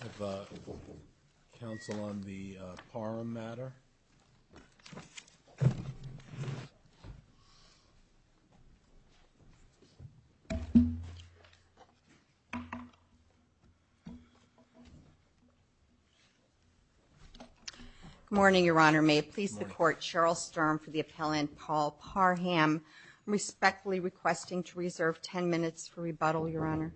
I have, uh, counsel on the, uh, Parham matter. Good morning, Your Honor. May it please the Court, Cheryl Sturm for the appellant Paul Parham. I'm respectfully requesting to reserve ten minutes for rebuttal, Your Honor.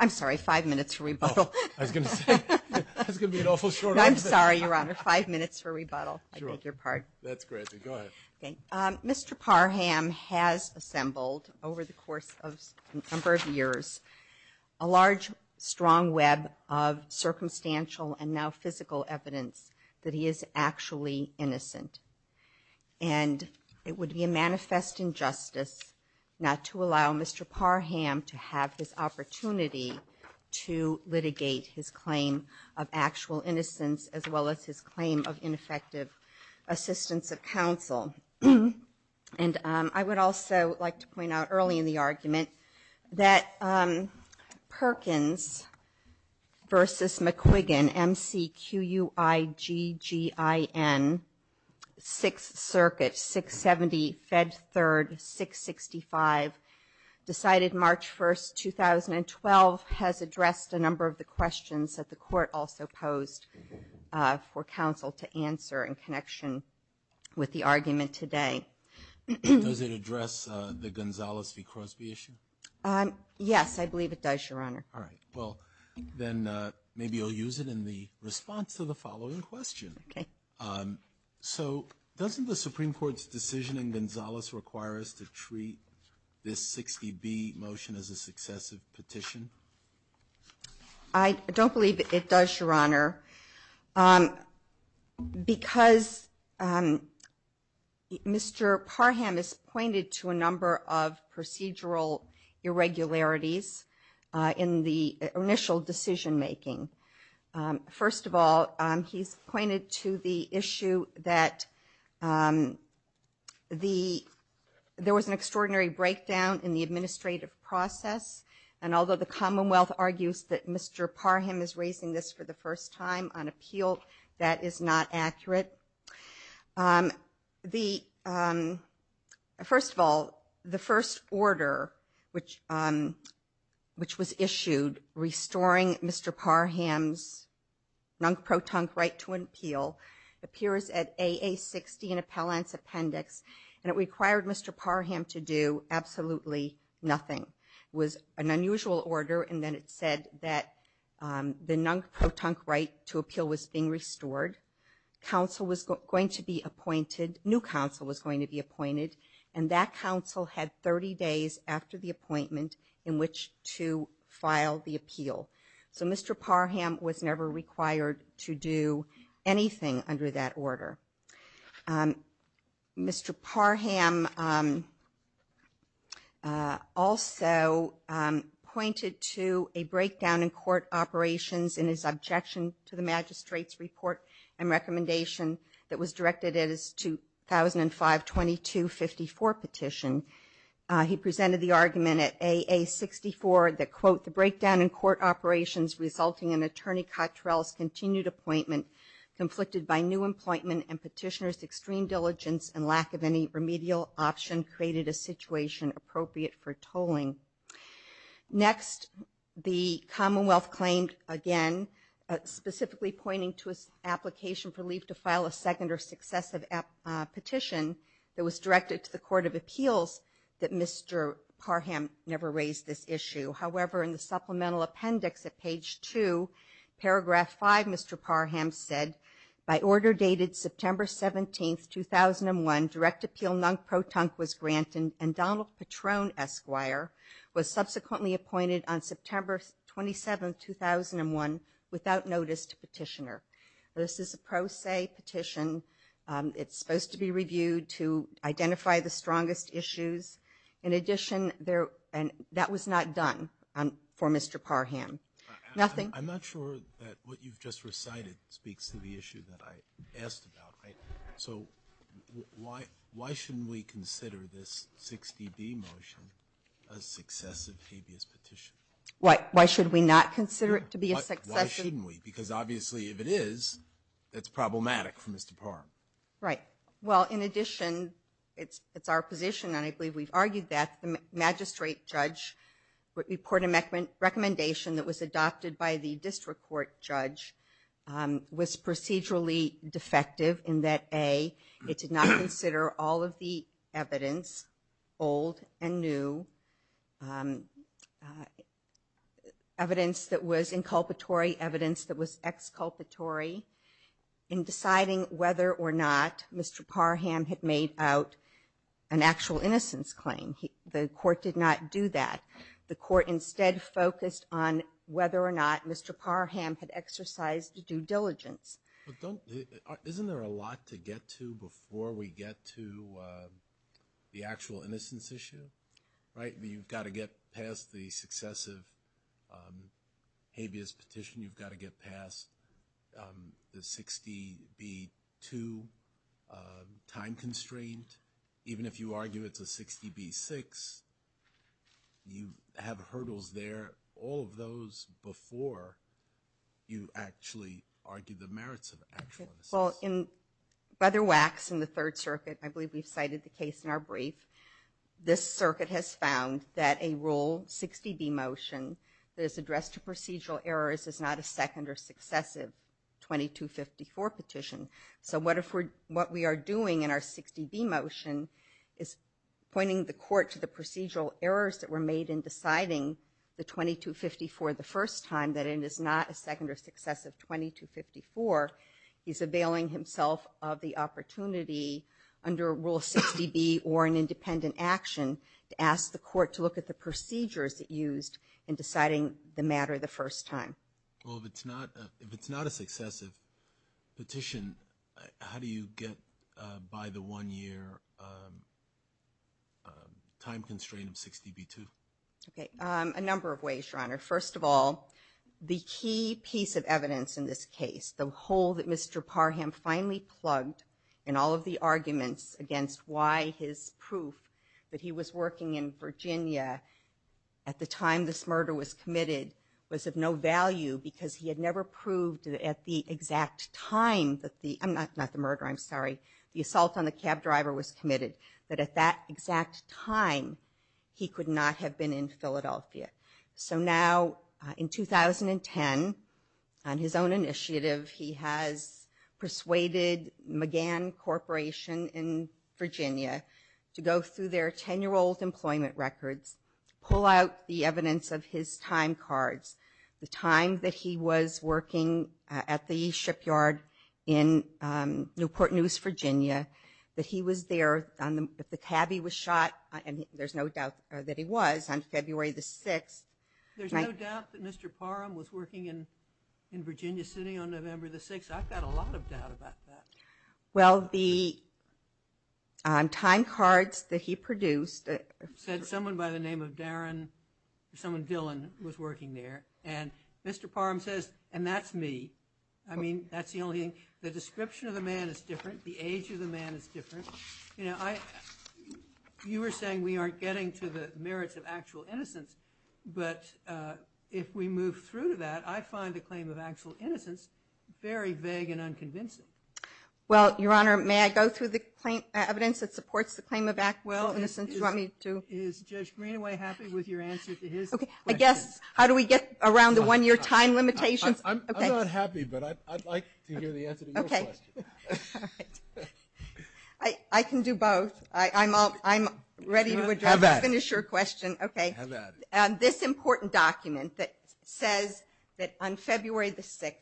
I'm sorry, five minutes for rebuttal. I was going to say, that's going to be an awful short answer. I'm sorry, Your Honor, five minutes for rebuttal. I beg your pardon. That's great. Go ahead. Mr. Parham has assembled, over the course of a number of years, a large, strong web of circumstantial and now physical evidence that he is actually innocent. And it would be a manifest injustice not to allow Mr. Parham to have his opportunity to litigate his claim of actual innocence, as well as his claim of ineffective assistance of counsel. And, um, I would also like to point out early in the argument that, um, Perkins v. McQuiggin, M-C-Q-U-I-G-G-I-N, Sixth Circuit, 670 Fed Third, 665, decided March 1, 2012, which has addressed a number of the questions that the Court also posed for counsel to answer in connection with the argument today. Does it address the Gonzales v. Crosby issue? Yes, I believe it does, Your Honor. All right. Well, then maybe you'll use it in the response to the following question. So doesn't the Supreme Court's decision in Gonzales require us to treat this 60B motion as a successive petition? I don't believe it does, Your Honor, because Mr. Parham has pointed to a number of procedural irregularities in the initial decision-making. First of all, he's pointed to the issue that there was an extraordinary breakdown in the administrative process, and although the Commonwealth argues that Mr. Parham is raising this for the first time on appeal, that is not accurate. First of all, the first order, which was issued, restoring Mr. Parham to his position as a judge, Mr. Parham's non-protonc right to an appeal, appears at A.A. 60 in Appellant's Appendix, and it required Mr. Parham to do absolutely nothing. It was an unusual order, and then it said that the non-protonc right to appeal was being restored. Counsel was going to be appointed, new counsel was going to be appointed, and that counsel had 30 days after the hearing, and Mr. Parham was never required to do anything under that order. Mr. Parham also pointed to a breakdown in court operations in his objection to the magistrate's report and recommendation that was directed at his 2005-2254 petition. He presented the argument at A.A. 64 that, quote, the breakdown in court operations resulting in Attorney Cottrell's continued appointment, conflicted by new employment and petitioner's extreme diligence, and lack of any remedial option created a situation appropriate for tolling. Next, the Commonwealth claimed, again, specifically pointing to an application for leave to file a second or successive petition that was directed to the Court of Appeals that Mr. Parham never raised this issue. However, in the supplemental appendix at page 2, paragraph 5, Mr. Parham said, by order dated September 17, 2001, direct appeal non-protonc was granted, and Donald Patron Esquire was subsequently appointed on September 27, 2001, without notice to petitioner. This is a pro se petition. It's supposed to be reviewed to identify the strongest issues. In addition, that was not done for Mr. Parham. Nothing? I'm not sure that what you've just recited speaks to the issue that I asked about. So, why shouldn't we consider this 60B motion a successive habeas petition? Why shouldn't we? Because obviously, if it is, that's problematic for Mr. Parham. Right. Well, in addition, it's our position, and I believe we've argued that, the magistrate judge would report a recommendation that was adopted by the district court judge was procedurally defective in that, A, it did not consider all of the evidence, old and new, evidence that was inculpatory, evidence that was exculpatory. In deciding whether or not Mr. Parham had made out an actual innocence claim, the court did not do that. The court instead focused on whether or not Mr. Parham had exercised due diligence. Isn't there a lot to get to before we get to the actual innocence issue? Right? You've got to get past the successive habeas petition. You've got to get past the 60B2 time constraint. Even if you argue it's a 60B6, you have hurdles there. All of those before you actually argue the merits of actual innocence. Well, in Brother Wax, in the Third Circuit, I believe we've cited the case in our brief. This circuit has found that a Rule 60B motion that is addressed to procedural errors is not a second or successive 2254 petition. So what we are doing in our 60B motion is pointing the court to the procedural errors that were made in deciding the 2254 the first time, that it is not a second or successive 2254. He's availing himself of the opportunity, under Rule 60B or an independent action, to ask the court to look at the procedures it used in deciding the matter the first time. Well, if it's not a successive petition, how do you get by the one-year time constraint of 60B2? Okay. A number of ways, Your Honor. First of all, the key piece of evidence in this case, the hole that Mr. Parham finally plugged in all of the arguments against why his proof that he was working in Virginia at the time this murder was committed was of no value because he had never proved at the exact time that the, not the murder, I'm sorry, the assault on the cab driver was committed, that at that exact time he could not have been in Philadelphia. So now, in 2010, on his own initiative, he has persuaded McGill, McGann Corporation in Virginia, to go through their 10-year-old employment records, pull out the evidence of his time cards, the time that he was working at the shipyard in Newport News, Virginia, that he was there, that the cabbie was shot, and there's no doubt that he was, on February the 6th. There's no doubt that Mr. Parham was working in Virginia City on November the 6th? I've got a lot of doubt about that. Well, the time cards that he produced said someone by the name of Darren, someone Dylan was working there, and Mr. Parham says, and that's me. I mean, that's the only thing, the description of the man is different, the age of the man is different. You know, you were saying we aren't getting to the merits of actual innocence, but if we move through to that, I find the claim of actual innocence very vague and unconvincing. Well, Your Honor, may I go through the evidence that supports the claim of actual innocence? Is Judge Greenaway happy with your answer to his question? I guess, how do we get around the one-year time limitations? I'm not happy, but I'd like to hear the answer to your question. I can do both. I'm ready to finish your question. This important document that says that on February the 6th,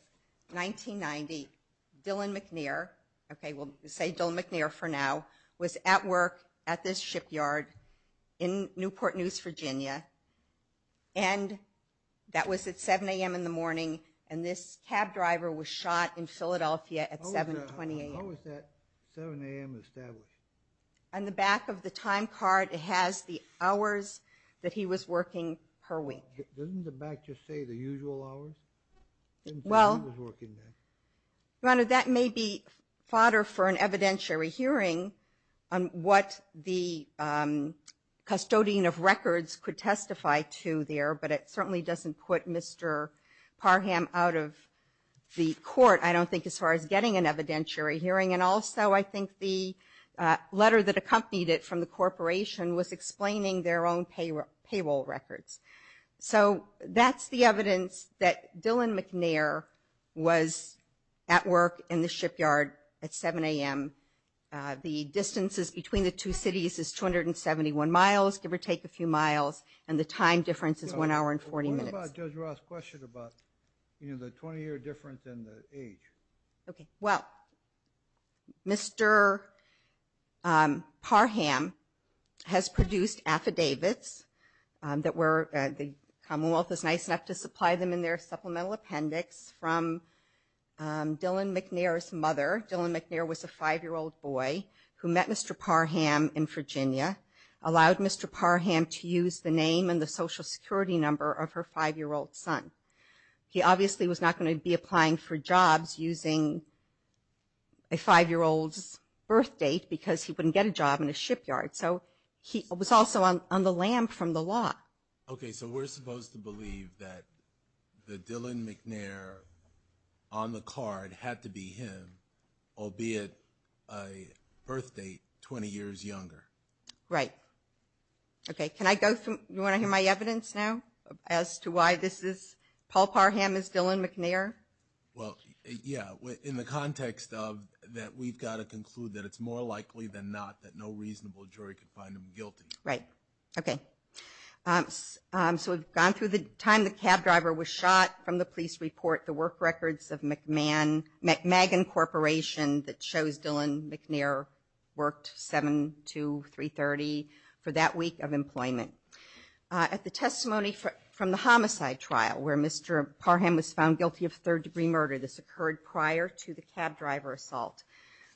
1990, Dylan McNair, okay, we'll say Dylan McNair for now, was at work at this shipyard in Newport News, Virginia, and that was at 7 a.m. in the morning, and this cab driver was shot in Philadelphia at 7 a.m. How is that 7 a.m. established? On the back of the time card, it has the hours that he was working per week. Doesn't the back just say the usual hours? Your Honor, that may be fodder for an evidentiary hearing on what the custodian of records could testify to there, but it certainly doesn't put Mr. Parham out of the court, I don't think, as far as getting an evidentiary hearing, and also I think the letter that accompanied it from the corporation was explaining their own payroll records. So that's the evidence that Dylan McNair was at work in the shipyard at 7 a.m. The distances between the two cities is 271 miles, give or take a few miles, and the time difference is one hour and 40 minutes. What about Judge Ross' question about the 20-year difference in the age? Well, Mr. Parham has produced affidavits that the Commonwealth is nice enough to supply them in their supplemental appendix from Dylan McNair's mother. Dylan McNair was a 5-year-old boy who met Mr. Parham in Virginia, allowed Mr. Parham to use the name and the Social Security number of her 5-year-old son. He obviously was not going to be applying for jobs using a 5-year-old's birth date because he wouldn't get a job in a shipyard, so he was also on the lam from the law. Okay, so we're supposed to believe that the Dylan McNair on the card had to be him, albeit a birth date 20 years younger. Right. Okay, can I go through, you want to hear my evidence now as to why this is, Paul Parham is Dylan McNair? Well, yeah, in the context of that we've got to conclude that it's more likely than not that no reasonable jury could find him guilty. Right. Okay. So we've gone through the time the cab driver was shot from the police report, the work records of McMagan Corporation that shows Dylan McNair worked 7-2-3-30 for that week of employment. At the testimony from the homicide trial where Mr. Parham was found guilty of third-degree murder, this occurred prior to the cab driver assault.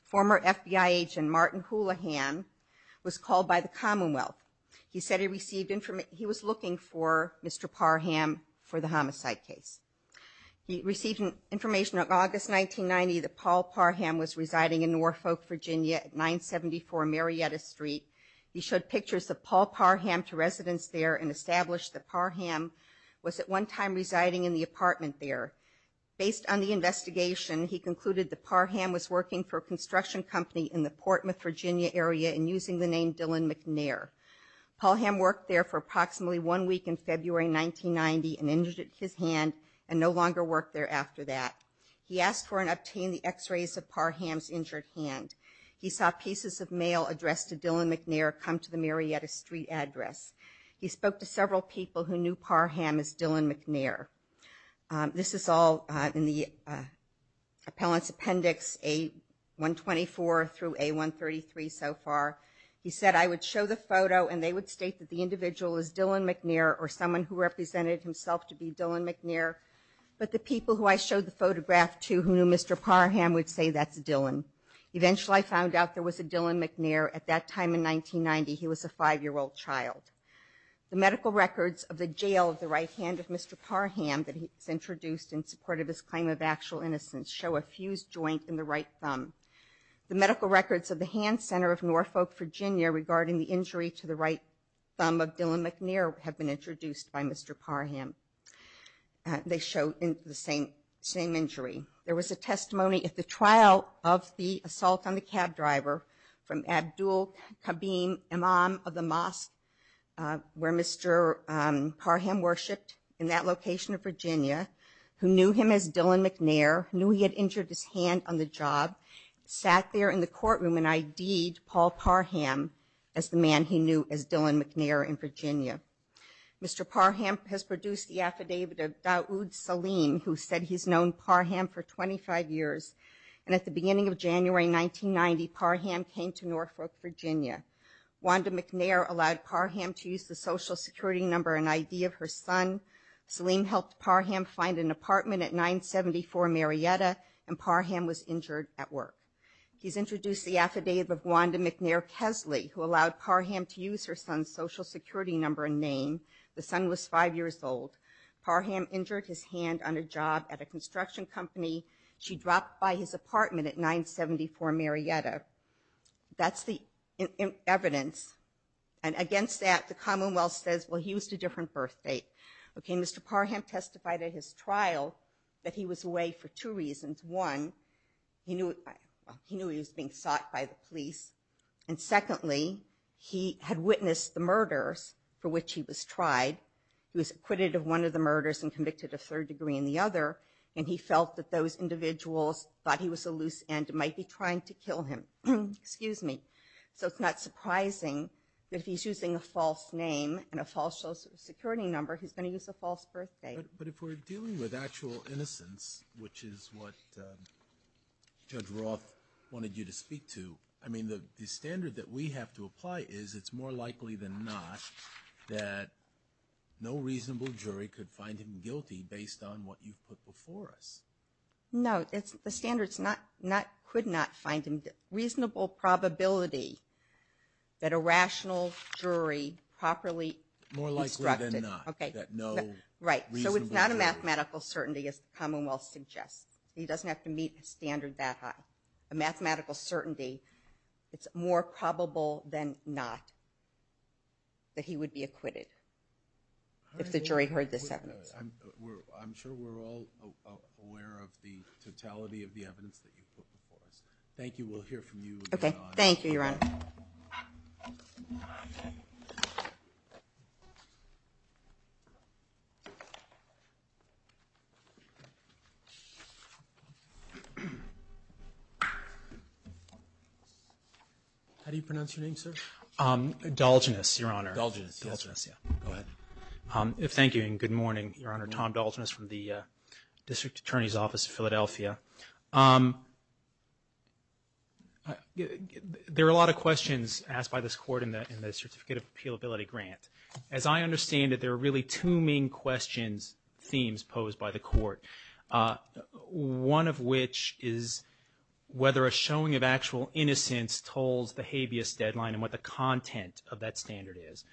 Former FBI agent Martin Houlihan was called by the Commonwealth. He said he was looking for Mr. Parham for the homicide case. He received information in August 1990 that Paul Parham was residing in Norfolk, Virginia, at 974 Marietta Street. He showed pictures of Paul Parham to residents there and established that Parham was at one time residing in the apartment there. Based on the investigation, he concluded that Parham was working for a construction company in the Portmouth, Virginia, area and using the name Dylan McNair. Parham worked there for approximately one week in February 1990 and injured his hand and no longer worked there after that. He asked for and obtained the x-rays of Parham's injured hand. He saw pieces of mail addressed to Dylan McNair come to the Marietta Street address. He spoke to several people who knew Parham as Dylan McNair. This is all in the appellant's appendix A-124 through A-133 so far. He said I would show the photo and they would state that the individual is Dylan McNair or someone who represented himself to be Dylan McNair, but the people who I showed the photograph to who knew Mr. Parham would say that's Dylan. Eventually I found out there was a Dylan McNair at that time in 1990. He was a five-year-old child. The medical records of the jail of the right hand of Mr. Parham that is introduced in support of his claim of actual innocence show a fused joint in the right thumb. The medical records of the hand center of Norfolk, Virginia regarding the injury to the right thumb of Dylan McNair have been introduced by Mr. Parham. They show the same injury. There was a testimony at the trial of the assault on the cab driver from Abdul Kabeem Imam of the mosque where Mr. Parham worshipped in that location of Virginia who knew him as Dylan McNair, knew he had injured his hand on the job, sat there in the courtroom and ID'd Paul Parham as the man he knew as Dylan McNair in Virginia. Mr. Parham has produced the affidavit of Dawood Saleem who said he's known Parham for 25 years and at the beginning of January 1990 Parham came to Norfolk, Virginia. Wanda McNair allowed Parham to use the social security number and ID of her son. Saleem helped Parham find an apartment at 974 Marietta and Parham was injured at work. He's introduced the affidavit of Wanda McNair Kesley who allowed Parham to use her son's social security number and name. The son was five years old. Parham injured his hand on a job at a construction company. She dropped by his apartment at 974 Marietta. That's the evidence and against that the commonwealth says he was at a different birth date. Mr. Parham testified at his trial that he was away for two reasons. One, he knew he was being sought by the police. And secondly, he had witnessed the murders for which he was tried. He was acquitted of one of the murders and convicted of third degree in the other and he felt that those individuals thought he was a loose end and might be trying to kill him. So it's not surprising that if he's using a false name and a false social security number, he's going to use a false birth date. But if we're dealing with actual innocence, which is what Judge Roth wanted you to speak to, I mean the standard that we have to apply is it's more likely than not that no reasonable jury could find him guilty based on what you've put before us. No, the standard's not, could not find him, reasonable probability that a rational jury properly instructed. Right, so it's not a mathematical certainty as the commonwealth suggests. He doesn't have to meet a standard that high. A mathematical certainty, it's more probable than not that he would be acquitted. If the jury heard this evidence. I'm sure we're all aware of the totality of the evidence that you put before us. Thank you, we'll hear from you. Okay, thank you, Your Honor. How do you pronounce your name, sir? Dolginus, Your Honor. Dolginus, yes. Dolginus, yeah. Go ahead. Thank you and good morning, Your Honor. Tom Dolginus from the District Attorney's Office of Philadelphia. There are a lot of questions asked by this court in the Certificate of Appealability Grant. As I understand it, there are really two main questions, themes posed by the court. One of which is whether a showing of actual innocence tolls the habeas deadline and what the content of that standard is.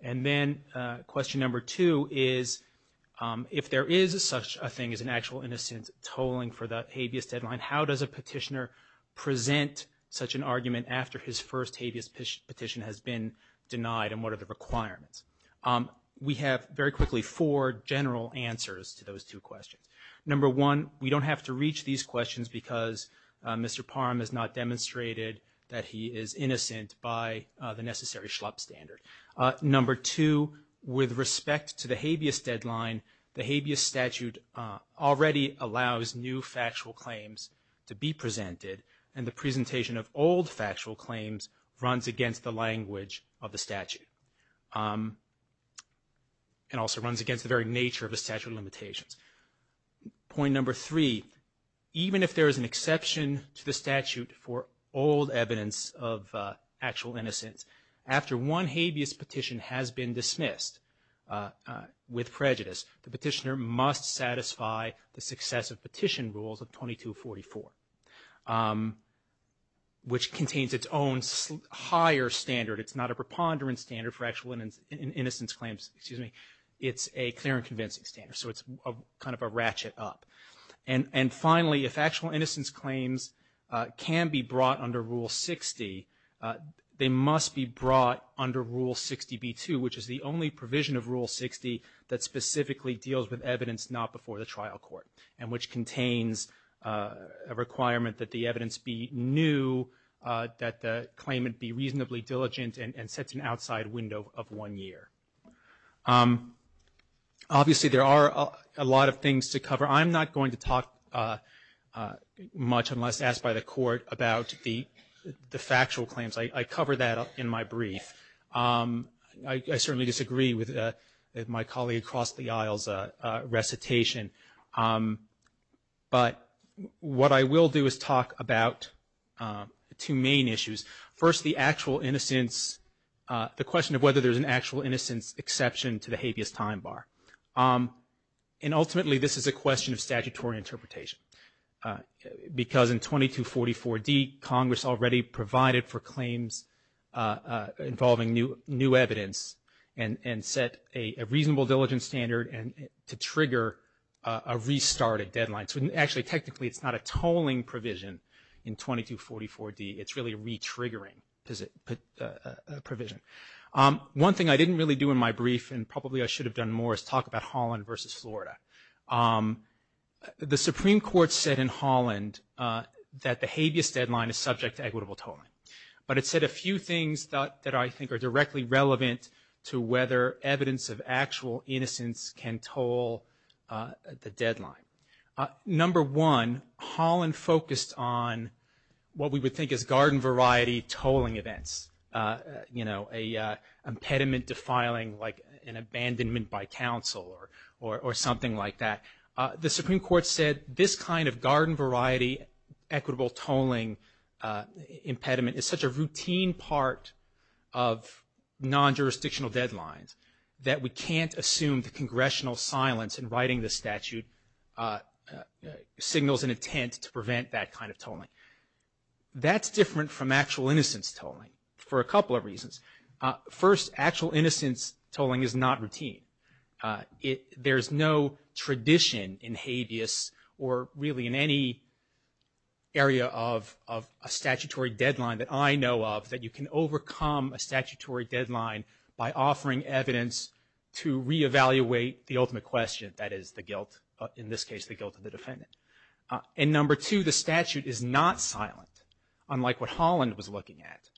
And then question number two is if there is such a thing as an actual innocence tolling for the habeas deadline, how does a petitioner present such an argument after his first habeas petition has been denied and what are the requirements? We have, very quickly, four general answers to those two questions. Number one, we don't have to reach these questions because Mr. Parham has not demonstrated that he is innocent by the necessary schlup standard. Number two, with respect to the habeas deadline, the habeas statute already allows new factual claims to be presented and the presentation of old factual claims runs against the language of the statute and also runs against the very nature of the statute of limitations. Point number three, even if there is an exception to the statute for old evidence of actual innocence, after one habeas petition has been dismissed with prejudice, the petitioner must satisfy the successive petition rules of 2244, which contains its own higher standard. It's not a preponderance standard for actual innocence claims, excuse me. It's a clear and convincing standard, so it's kind of a ratchet up. And finally, if actual innocence claims can be brought under Rule 60, they must be brought under Rule 60B2, which is the only provision of Rule 60 that specifically deals with evidence not before the trial court and which contains a requirement that the evidence be new, that the claimant be reasonably diligent and set an outside window of one year. Obviously there are a lot of things to cover. I'm not going to talk much unless asked by the court about the factual claims. I cover that in my brief. I certainly disagree with my colleague across the aisle's recitation. But what I will do is talk about two main issues. First, the actual innocence, the question of whether there's an actual innocence exception to the habeas time bar. And ultimately this is a question of statutory interpretation, because in 2244D Congress already provided for claims involving new evidence and set a reasonable diligence standard to trigger a restarted deadline. Actually technically it's not a tolling provision in 2244D, it's really a re-triggering provision. One thing I didn't really do in my brief and probably I should have done more is talk about Holland versus Florida. The Supreme Court said in Holland that the habeas deadline is subject to equitable tolling. But it said a few things that I think are directly relevant to whether evidence of actual innocence can toll the deadline. Number one, Holland focused on what we would think is garden variety tolling events. You know, an impediment defiling like an abandonment by council or something like that. The Supreme Court said this kind of garden variety equitable tolling impediment is such a routine part of non-jurisdictional deadlines that we can't assume the congressional silence in writing this statute signals an intent to prevent that kind of tolling. That's different from actual innocence tolling for a couple of reasons. First, actual innocence tolling is not routine. There's no tradition in habeas or really in any area of a statutory deadline that I know of that you can overcome a statutory deadline by offering evidence to reevaluate the ultimate question, that is the guilt, in this case the guilt of the defendant. And number two, the statute is not silent, unlike what Holland was looking at.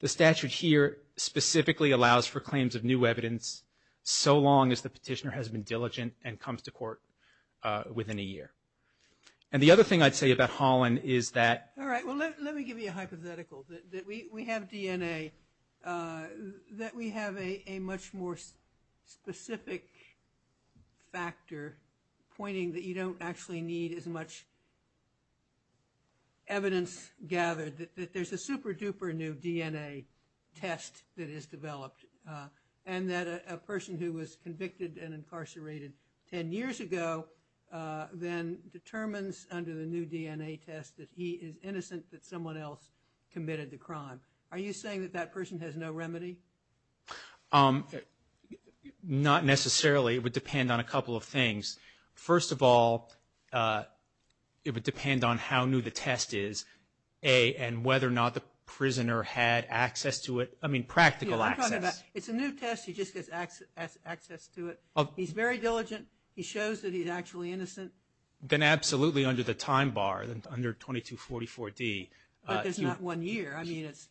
The statute here specifically allows for claims of new evidence so long as the petitioner has been diligent and comes to court within a year. And the other thing I'd say about Holland is that... All right, well, let me give you a hypothetical, that we have DNA, that we have a much more specific factor pointing that you don't actually need as much evidence gathered, that there's a super-duper new DNA test that is developed, and that a person who was convicted and incarcerated ten years ago then determines under the new DNA test that he is innocent, that someone else committed the crime. Are you saying that that person has no remedy? Not necessarily. It would depend on a couple of things. First of all, it would depend on how new the test is, and whether or not the prisoner had access to it, I mean practical access. It's a new test, he just gets access to it, he's very diligent, he shows that he's actually innocent. Then absolutely under the time bar, under 2244D. But there's not one year, I mean it's...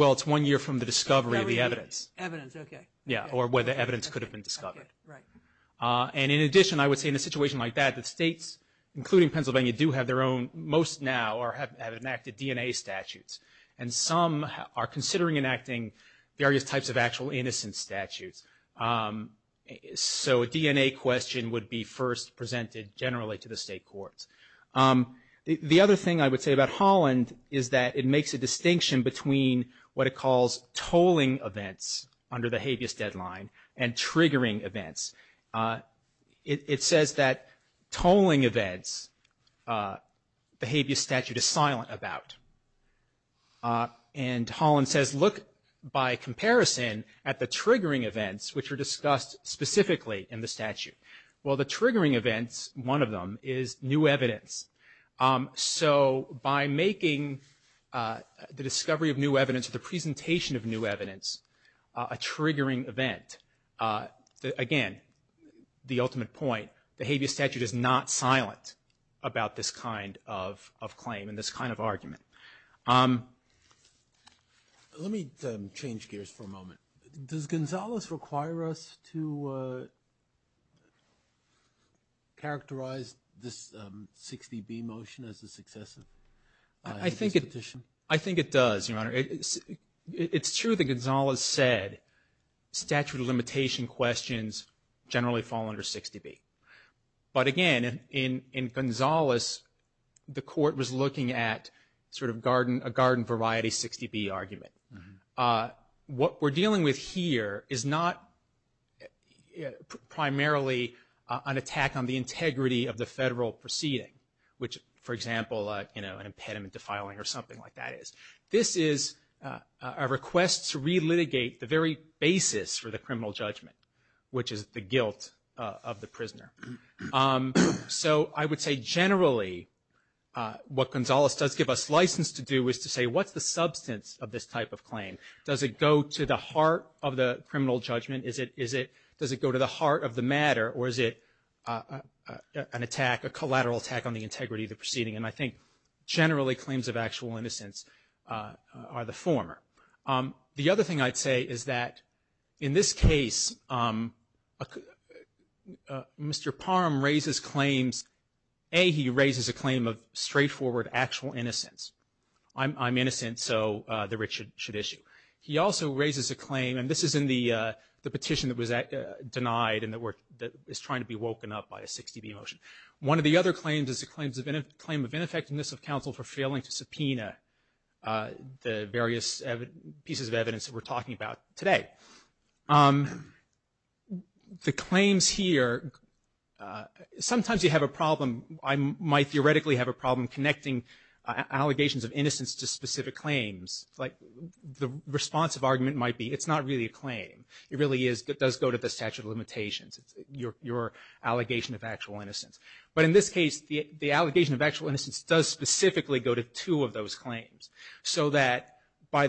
And in addition, I would say in a situation like that, the states, including Pennsylvania, do have their own, most now have enacted DNA statutes, and some are considering enacting various types of actual innocence statutes. So a DNA question would be first presented generally to the state courts. The other thing I would say about Holland is that it makes a distinction between what it calls tolling events under the habeas deadline and triggering events. It says that tolling events the habeas statute is silent about. And Holland says look by comparison at the triggering events, which are discussed specifically in the statute. Well the triggering events, one of them, is new evidence. So by making the discovery of new evidence, or the presentation of new evidence, a triggering event, again, the ultimate point, the habeas statute is not silent about this kind of claim and this kind of argument. Does Gonzales require us to characterize this 60B motion as a successive? I think it does, Your Honor. It's true that Gonzales said statute of limitation questions generally fall under 60B. But again, in Gonzales, the court was looking at sort of a garden variety 60B argument. What we're dealing with here is not primarily an attack on the integrity of the federal proceeding, which, for example, an impediment to filing or something like that is. This is a request to relitigate the very basis for the criminal judgment, Your Honor. So I would say generally what Gonzales does give us license to do is to say what's the substance of this type of claim? Does it go to the heart of the criminal judgment? Does it go to the heart of the matter, or is it an attack, a collateral attack on the integrity of the proceeding? And I think generally claims of actual innocence are the former. The other thing I'd say is that in this case, Mr. Parham raises claims. A, he raises a claim of straightforward actual innocence. I'm innocent, so the writ should issue. He also raises a claim, and this is in the petition that was denied and that is trying to be woken up by a 60B motion. One of the other claims is a claim of ineffectiveness of counsel for failing to subpoena the various evidence pieces of evidence that we're talking about today. The claims here, sometimes you have a problem. I might theoretically have a problem connecting allegations of innocence to specific claims. The responsive argument might be it's not really a claim. It really does go to the statute of limitations, your allegation of actual innocence. But in this case, the allegation of actual innocence does specifically go to two of those claims, so that by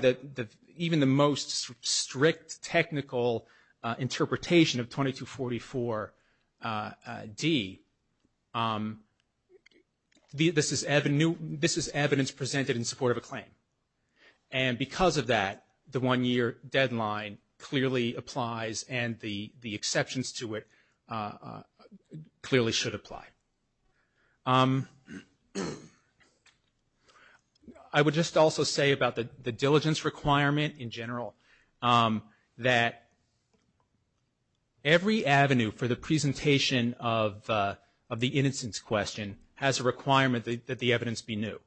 even the most strict technical interpretation of 2244D, this is evidence presented in support of a claim. And because of that, the one-year deadline clearly applies and the exceptions to it clearly should apply. I would just also say about the diligence requirement in general, that every avenue for the presentation of the innocence question has a requirement that the evidence be new,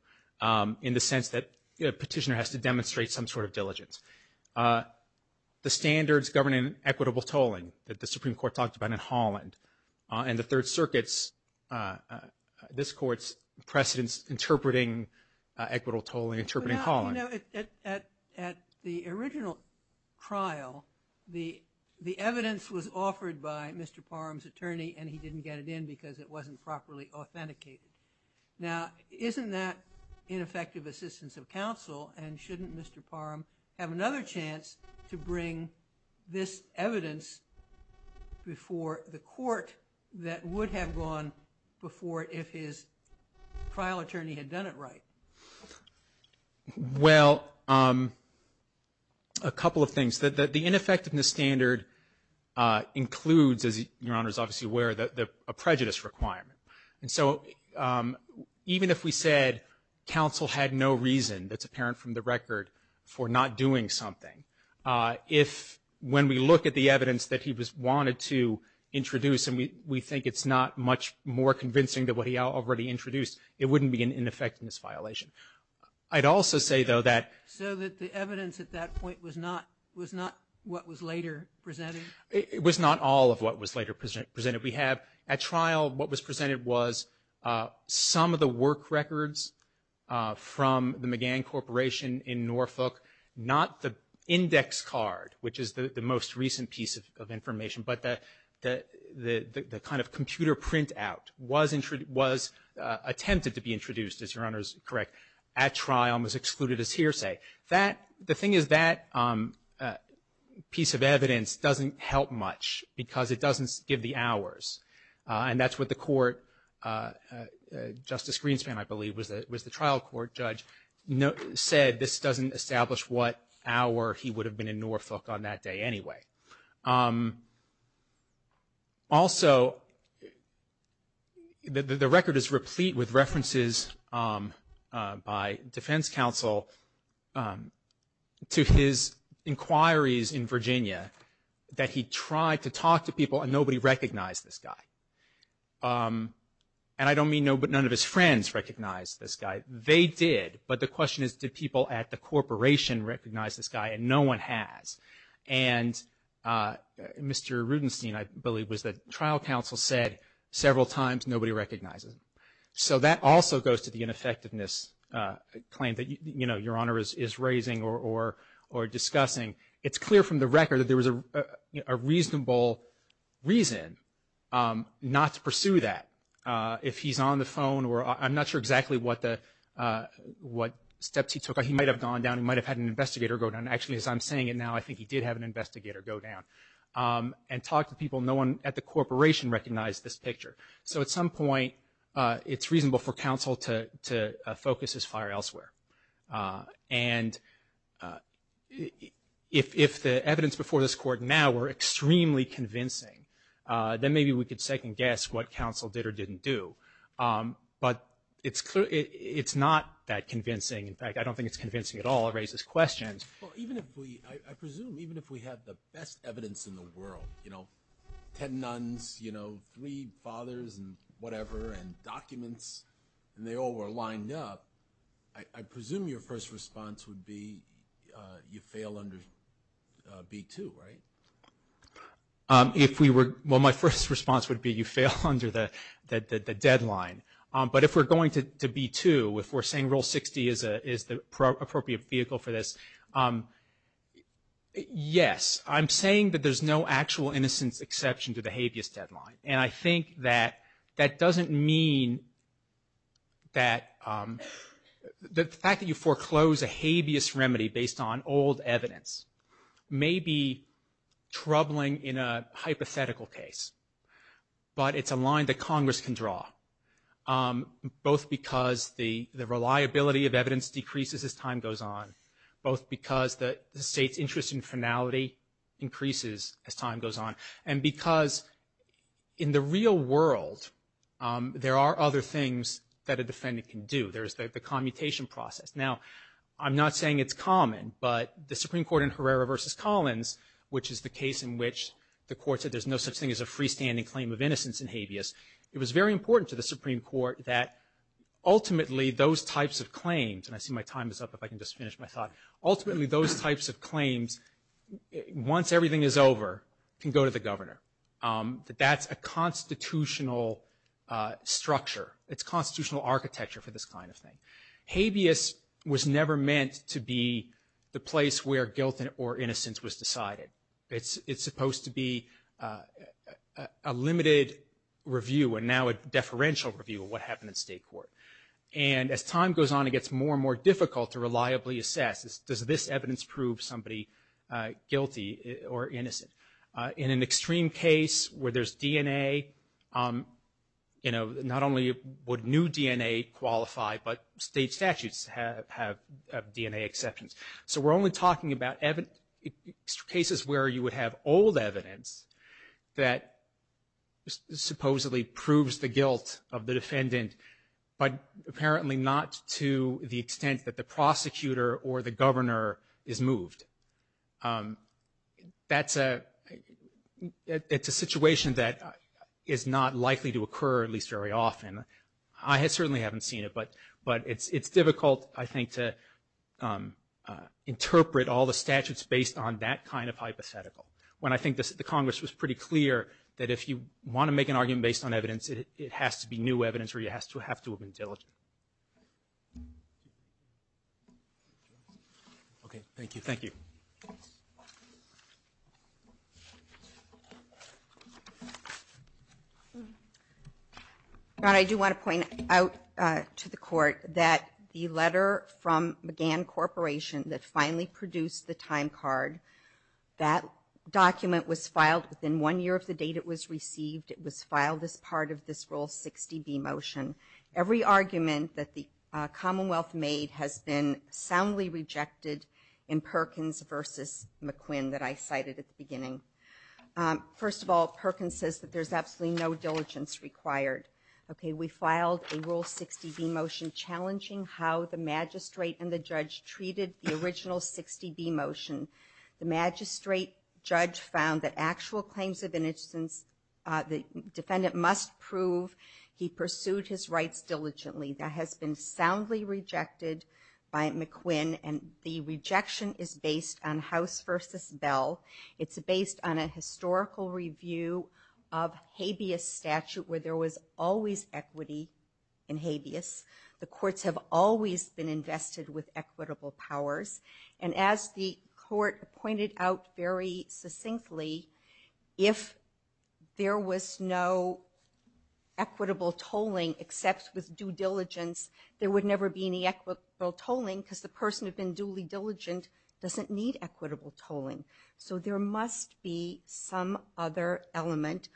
in the sense that a petitioner has to demonstrate some sort of diligence. The standards governing equitable tolling that the Supreme Court talked about in Holland and the Third Circuit's, this court's precedence interpreting equitable tolling, interpreting Holland. At the original trial, the evidence was offered by Mr. Parham's attorney and he didn't get it in because it wasn't properly authenticated. Now, isn't that another chance to bring this evidence before the court that would have gone before if his trial attorney had done it right? Well, a couple of things. The ineffectiveness standard includes, as Your Honor is obviously aware, a prejudice requirement. And so, even if we said counsel had no reason, that's apparent from the record, for not doing something, if when we look at the evidence that he wanted to introduce and we think it's not much more convincing than what he already introduced, it wouldn't be an ineffectiveness violation. So that the evidence at that point was not what was later presented? It was not all of what was later presented. We have, at trial, what was presented was some of the work records from the McGann Corporation in Norfolk, not the index card, which is the most recent piece of information, but the kind of computer printout was attempted to be introduced, as Your Honor is correct, at trial and was excluded as hearsay. The thing is that piece of evidence doesn't help much because it doesn't give the hours. And that's what the court, Justice Greenspan, I believe, was the trial court judge, said this doesn't establish what hour he would have been in Norfolk on that day anyway. Also, the record is replete with references by defense counsel to his inquiries in Virginia that he tried to talk to people and nobody recognized this guy. And I don't mean none of his friends recognized this guy. They did. But the question is, did people at the corporation recognize this guy? And no one has. And Mr. Rudenstein, I believe, was the trial counsel, said several times, nobody recognizes him. So that also goes to the ineffectiveness claim that, you know, Your Honor is raising or discussing. It's clear from the record that there was a reasonable reason not to pursue that. If he's on the phone or I'm not sure exactly what steps he took. He might have gone down. He might have had an investigator go down. Actually, as I'm saying it now, I think he did have an investigator go down and talk to people. No one at the corporation recognized this picture. So at some point it's reasonable for counsel to focus his fire elsewhere. And if the evidence before this court now were extremely convincing, then maybe we could second guess what counsel did or didn't do. But it's not that convincing. In fact, I don't think it's convincing at all. It raises questions. Well, even if we, I presume, even if we have the best evidence in the world, you know, ten nuns, you know, three fathers and whatever and documents and they all were lined up, I presume your first response would be you fail under B2, right? Well, my first response would be you fail under the deadline. But if we're going to B2, if we're saying Rule 60 is the appropriate vehicle for this, yes. I'm saying that there's no actual innocence exception to the habeas deadline. And I think that that doesn't mean that the fact that you foreclose a habeas remedy based on old evidence may be troubling in a hypothetical case. But it's a line that Congress can draw, both because the reliability of evidence decreases as time goes on, both because the state's interest in finality increases as time goes on, and because in the real world there are other things that a defendant can do. There's the commutation process. Now, I'm not saying it's common, but the Supreme Court in Herrera v. Collins, which is the case in which the court said there's no such thing as a freestanding claim of innocence in habeas, it was very important to the Supreme Court that ultimately those types of claims, and I see my time is up, if I can just finish my thought, ultimately those types of claims, once everything is over, can go to the governor. That's a constitutional structure. It's constitutional architecture for this kind of thing. Habeas was never meant to be the place where guilt or innocence was decided. It's supposed to be a limited review, and now a deferential review of what happened in state court. And as time goes on, it gets more and more difficult to reliably assess, does this evidence prove somebody guilty or innocent? In an extreme case where there's DNA, you know, not only would new DNA qualify, but state statutes have DNA exceptions. So we're only talking about cases where you would have old evidence that supposedly proves the guilt of the defendant, but apparently not to the extent that the prosecutor or the governor is moved. That's a, it's a situation that is not likely to occur, at least very often. I certainly haven't seen it, but it's difficult, I think, to interpret all the statutes based on that kind of hypothetical, when I think the Congress was pretty clear that if you want to make an argument based on evidence, it has to be new evidence or it has to have been diligent. Okay. Thank you. I do want to point out to the court that the letter from McGann Corporation that finally produced the time card, that document was filed within one year of the date it was received. It was filed as part of this Rule 60B motion. Every argument that the Commonwealth made has been soundly rejected in Perkins versus McQuinn that I cited at the beginning. First of all, Perkins says that there's absolutely no diligence required. Okay. We filed a Rule 60B motion challenging how the magistrate and the judge treated the original 60B motion. The magistrate judge found that actual claims of innocence, the defendant must prove he pursued his rights diligently. That has been soundly rejected by McQuinn, and the rejection is based on House versus Bell. It's based on a historical review of habeas statute where there was always equity in habeas. The courts have always been invested with equitable powers, and as the court pointed out very succinctly, if there was no equitable tolling except with due diligence, there would never be any equitable tolling because the person who had been duly diligent doesn't need equitable tolling. So there must be some other element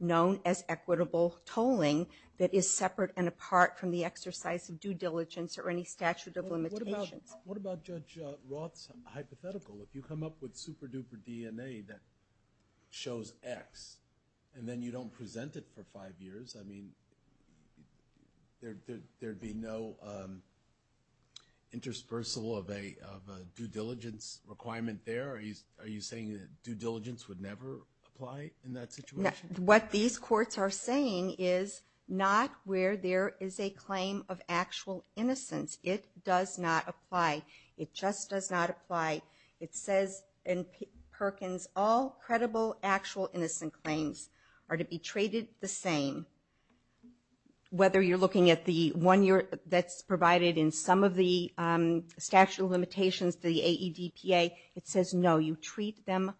known as equitable tolling that is separate and apart from the exercise of due diligence or any statute of limitations. What about Judge Roth's hypothetical? If you come up with super duper DNA that shows X, and then you don't present it for five years, I mean, there'd be no interspersal of a due diligence requirement there? Are you saying that due diligence is not where there is a claim of actual innocence? It does not apply. It just does not apply. It says in Perkins, all credible actual innocent claims are to be traded the same. Whether you're looking at the one that's provided in some of the statute of limitations, the AEDPA, it says no, you treat them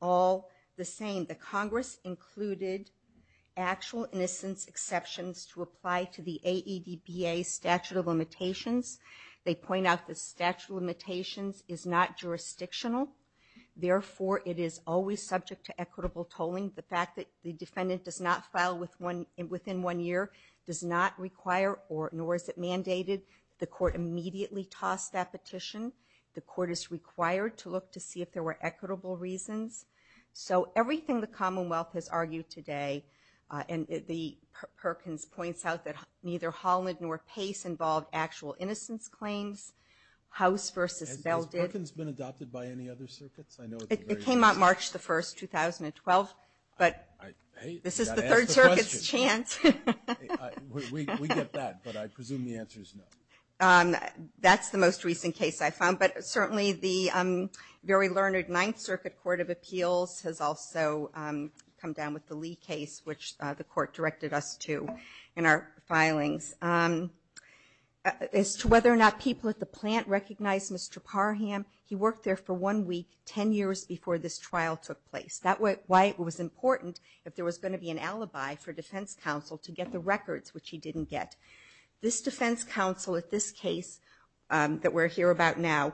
all the same. The Congress included actual innocence exceptions to apply to the AEDPA statute of limitations. They point out the statute of limitations is not jurisdictional. Therefore, it is always subject to equitable tolling. The fact that the defendant does not file within one year does not require, nor is it mandated, the court immediately toss that petition. The court is required to look to see if there were equitable reasons. So everything the Commonwealth has argued today, and the Perkins points out that neither Holland nor Pace involved actual innocence claims. House versus Beldid. Has Perkins been adopted by any other circuits? It came out March the 1st, 2012, but this is the Third Circuit's chance. We get that, but I presume the answer is no. That's the most recent case I found, but certainly the very learned Ninth Circuit Court of Appeals has also come down with the Lee case, which the court directed us to in our filings. As to whether or not people at the plant recognized Mr. Parham, he worked there for one week, ten years before this trial took place. That's why it was important if there was going to be an alibi for defense counsel to get the records, which he didn't get. This defense counsel at this case that we're here about now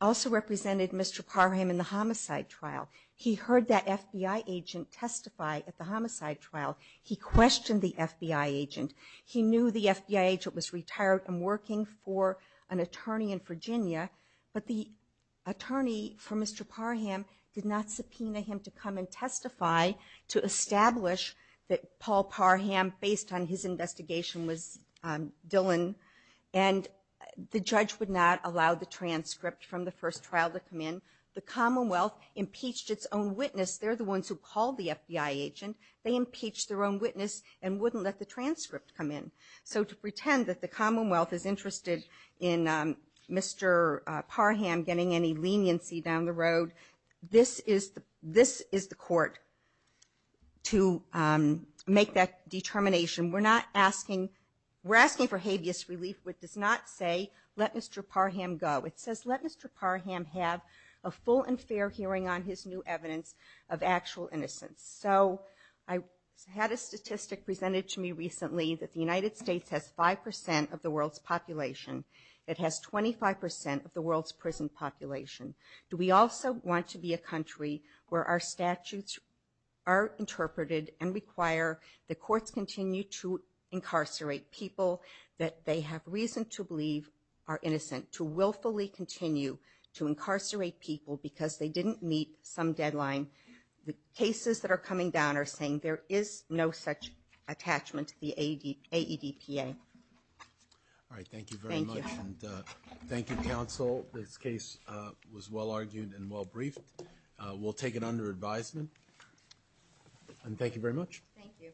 also represented Mr. Parham in the homicide trial. He heard that FBI agent testify at the homicide trial. He questioned the FBI agent. He knew the FBI agent was retired and working for an attorney in Virginia, but the attorney for Mr. Parham did not subpoena him to come and testify to establish that Paul Parham, based on his investigation, was Dillon, and the judge would not allow the transcript from the first trial to come in. The Commonwealth impeached its own witness. They're the ones who called the FBI agent. They impeached their own witness and wouldn't let the transcript come in. So to pretend that the Commonwealth is interested in Mr. Parham getting any leniency down the road, this is the court to make that determination. We're not asking for habeas relief. It does not say, let Mr. Parham go. It says, let Mr. Parham have a full and fair hearing on his new evidence of actual innocence. So I had a statistic presented to me recently that the United States has 5 percent of the world's population. It has 25 percent of the world's prison population. Do we also want to be a country where our statutes are interpreted and require the courts continue to incarcerate people that they have reason to believe are innocent, to willfully continue to incarcerate people because they didn't meet some deadline? The cases that are coming down are saying there is no such attachment to the AEDPA. All right. Thank you very much. Thank you, Counsel. This case was well argued and well briefed. We'll take it under advisement. And thank you very much. Thank you.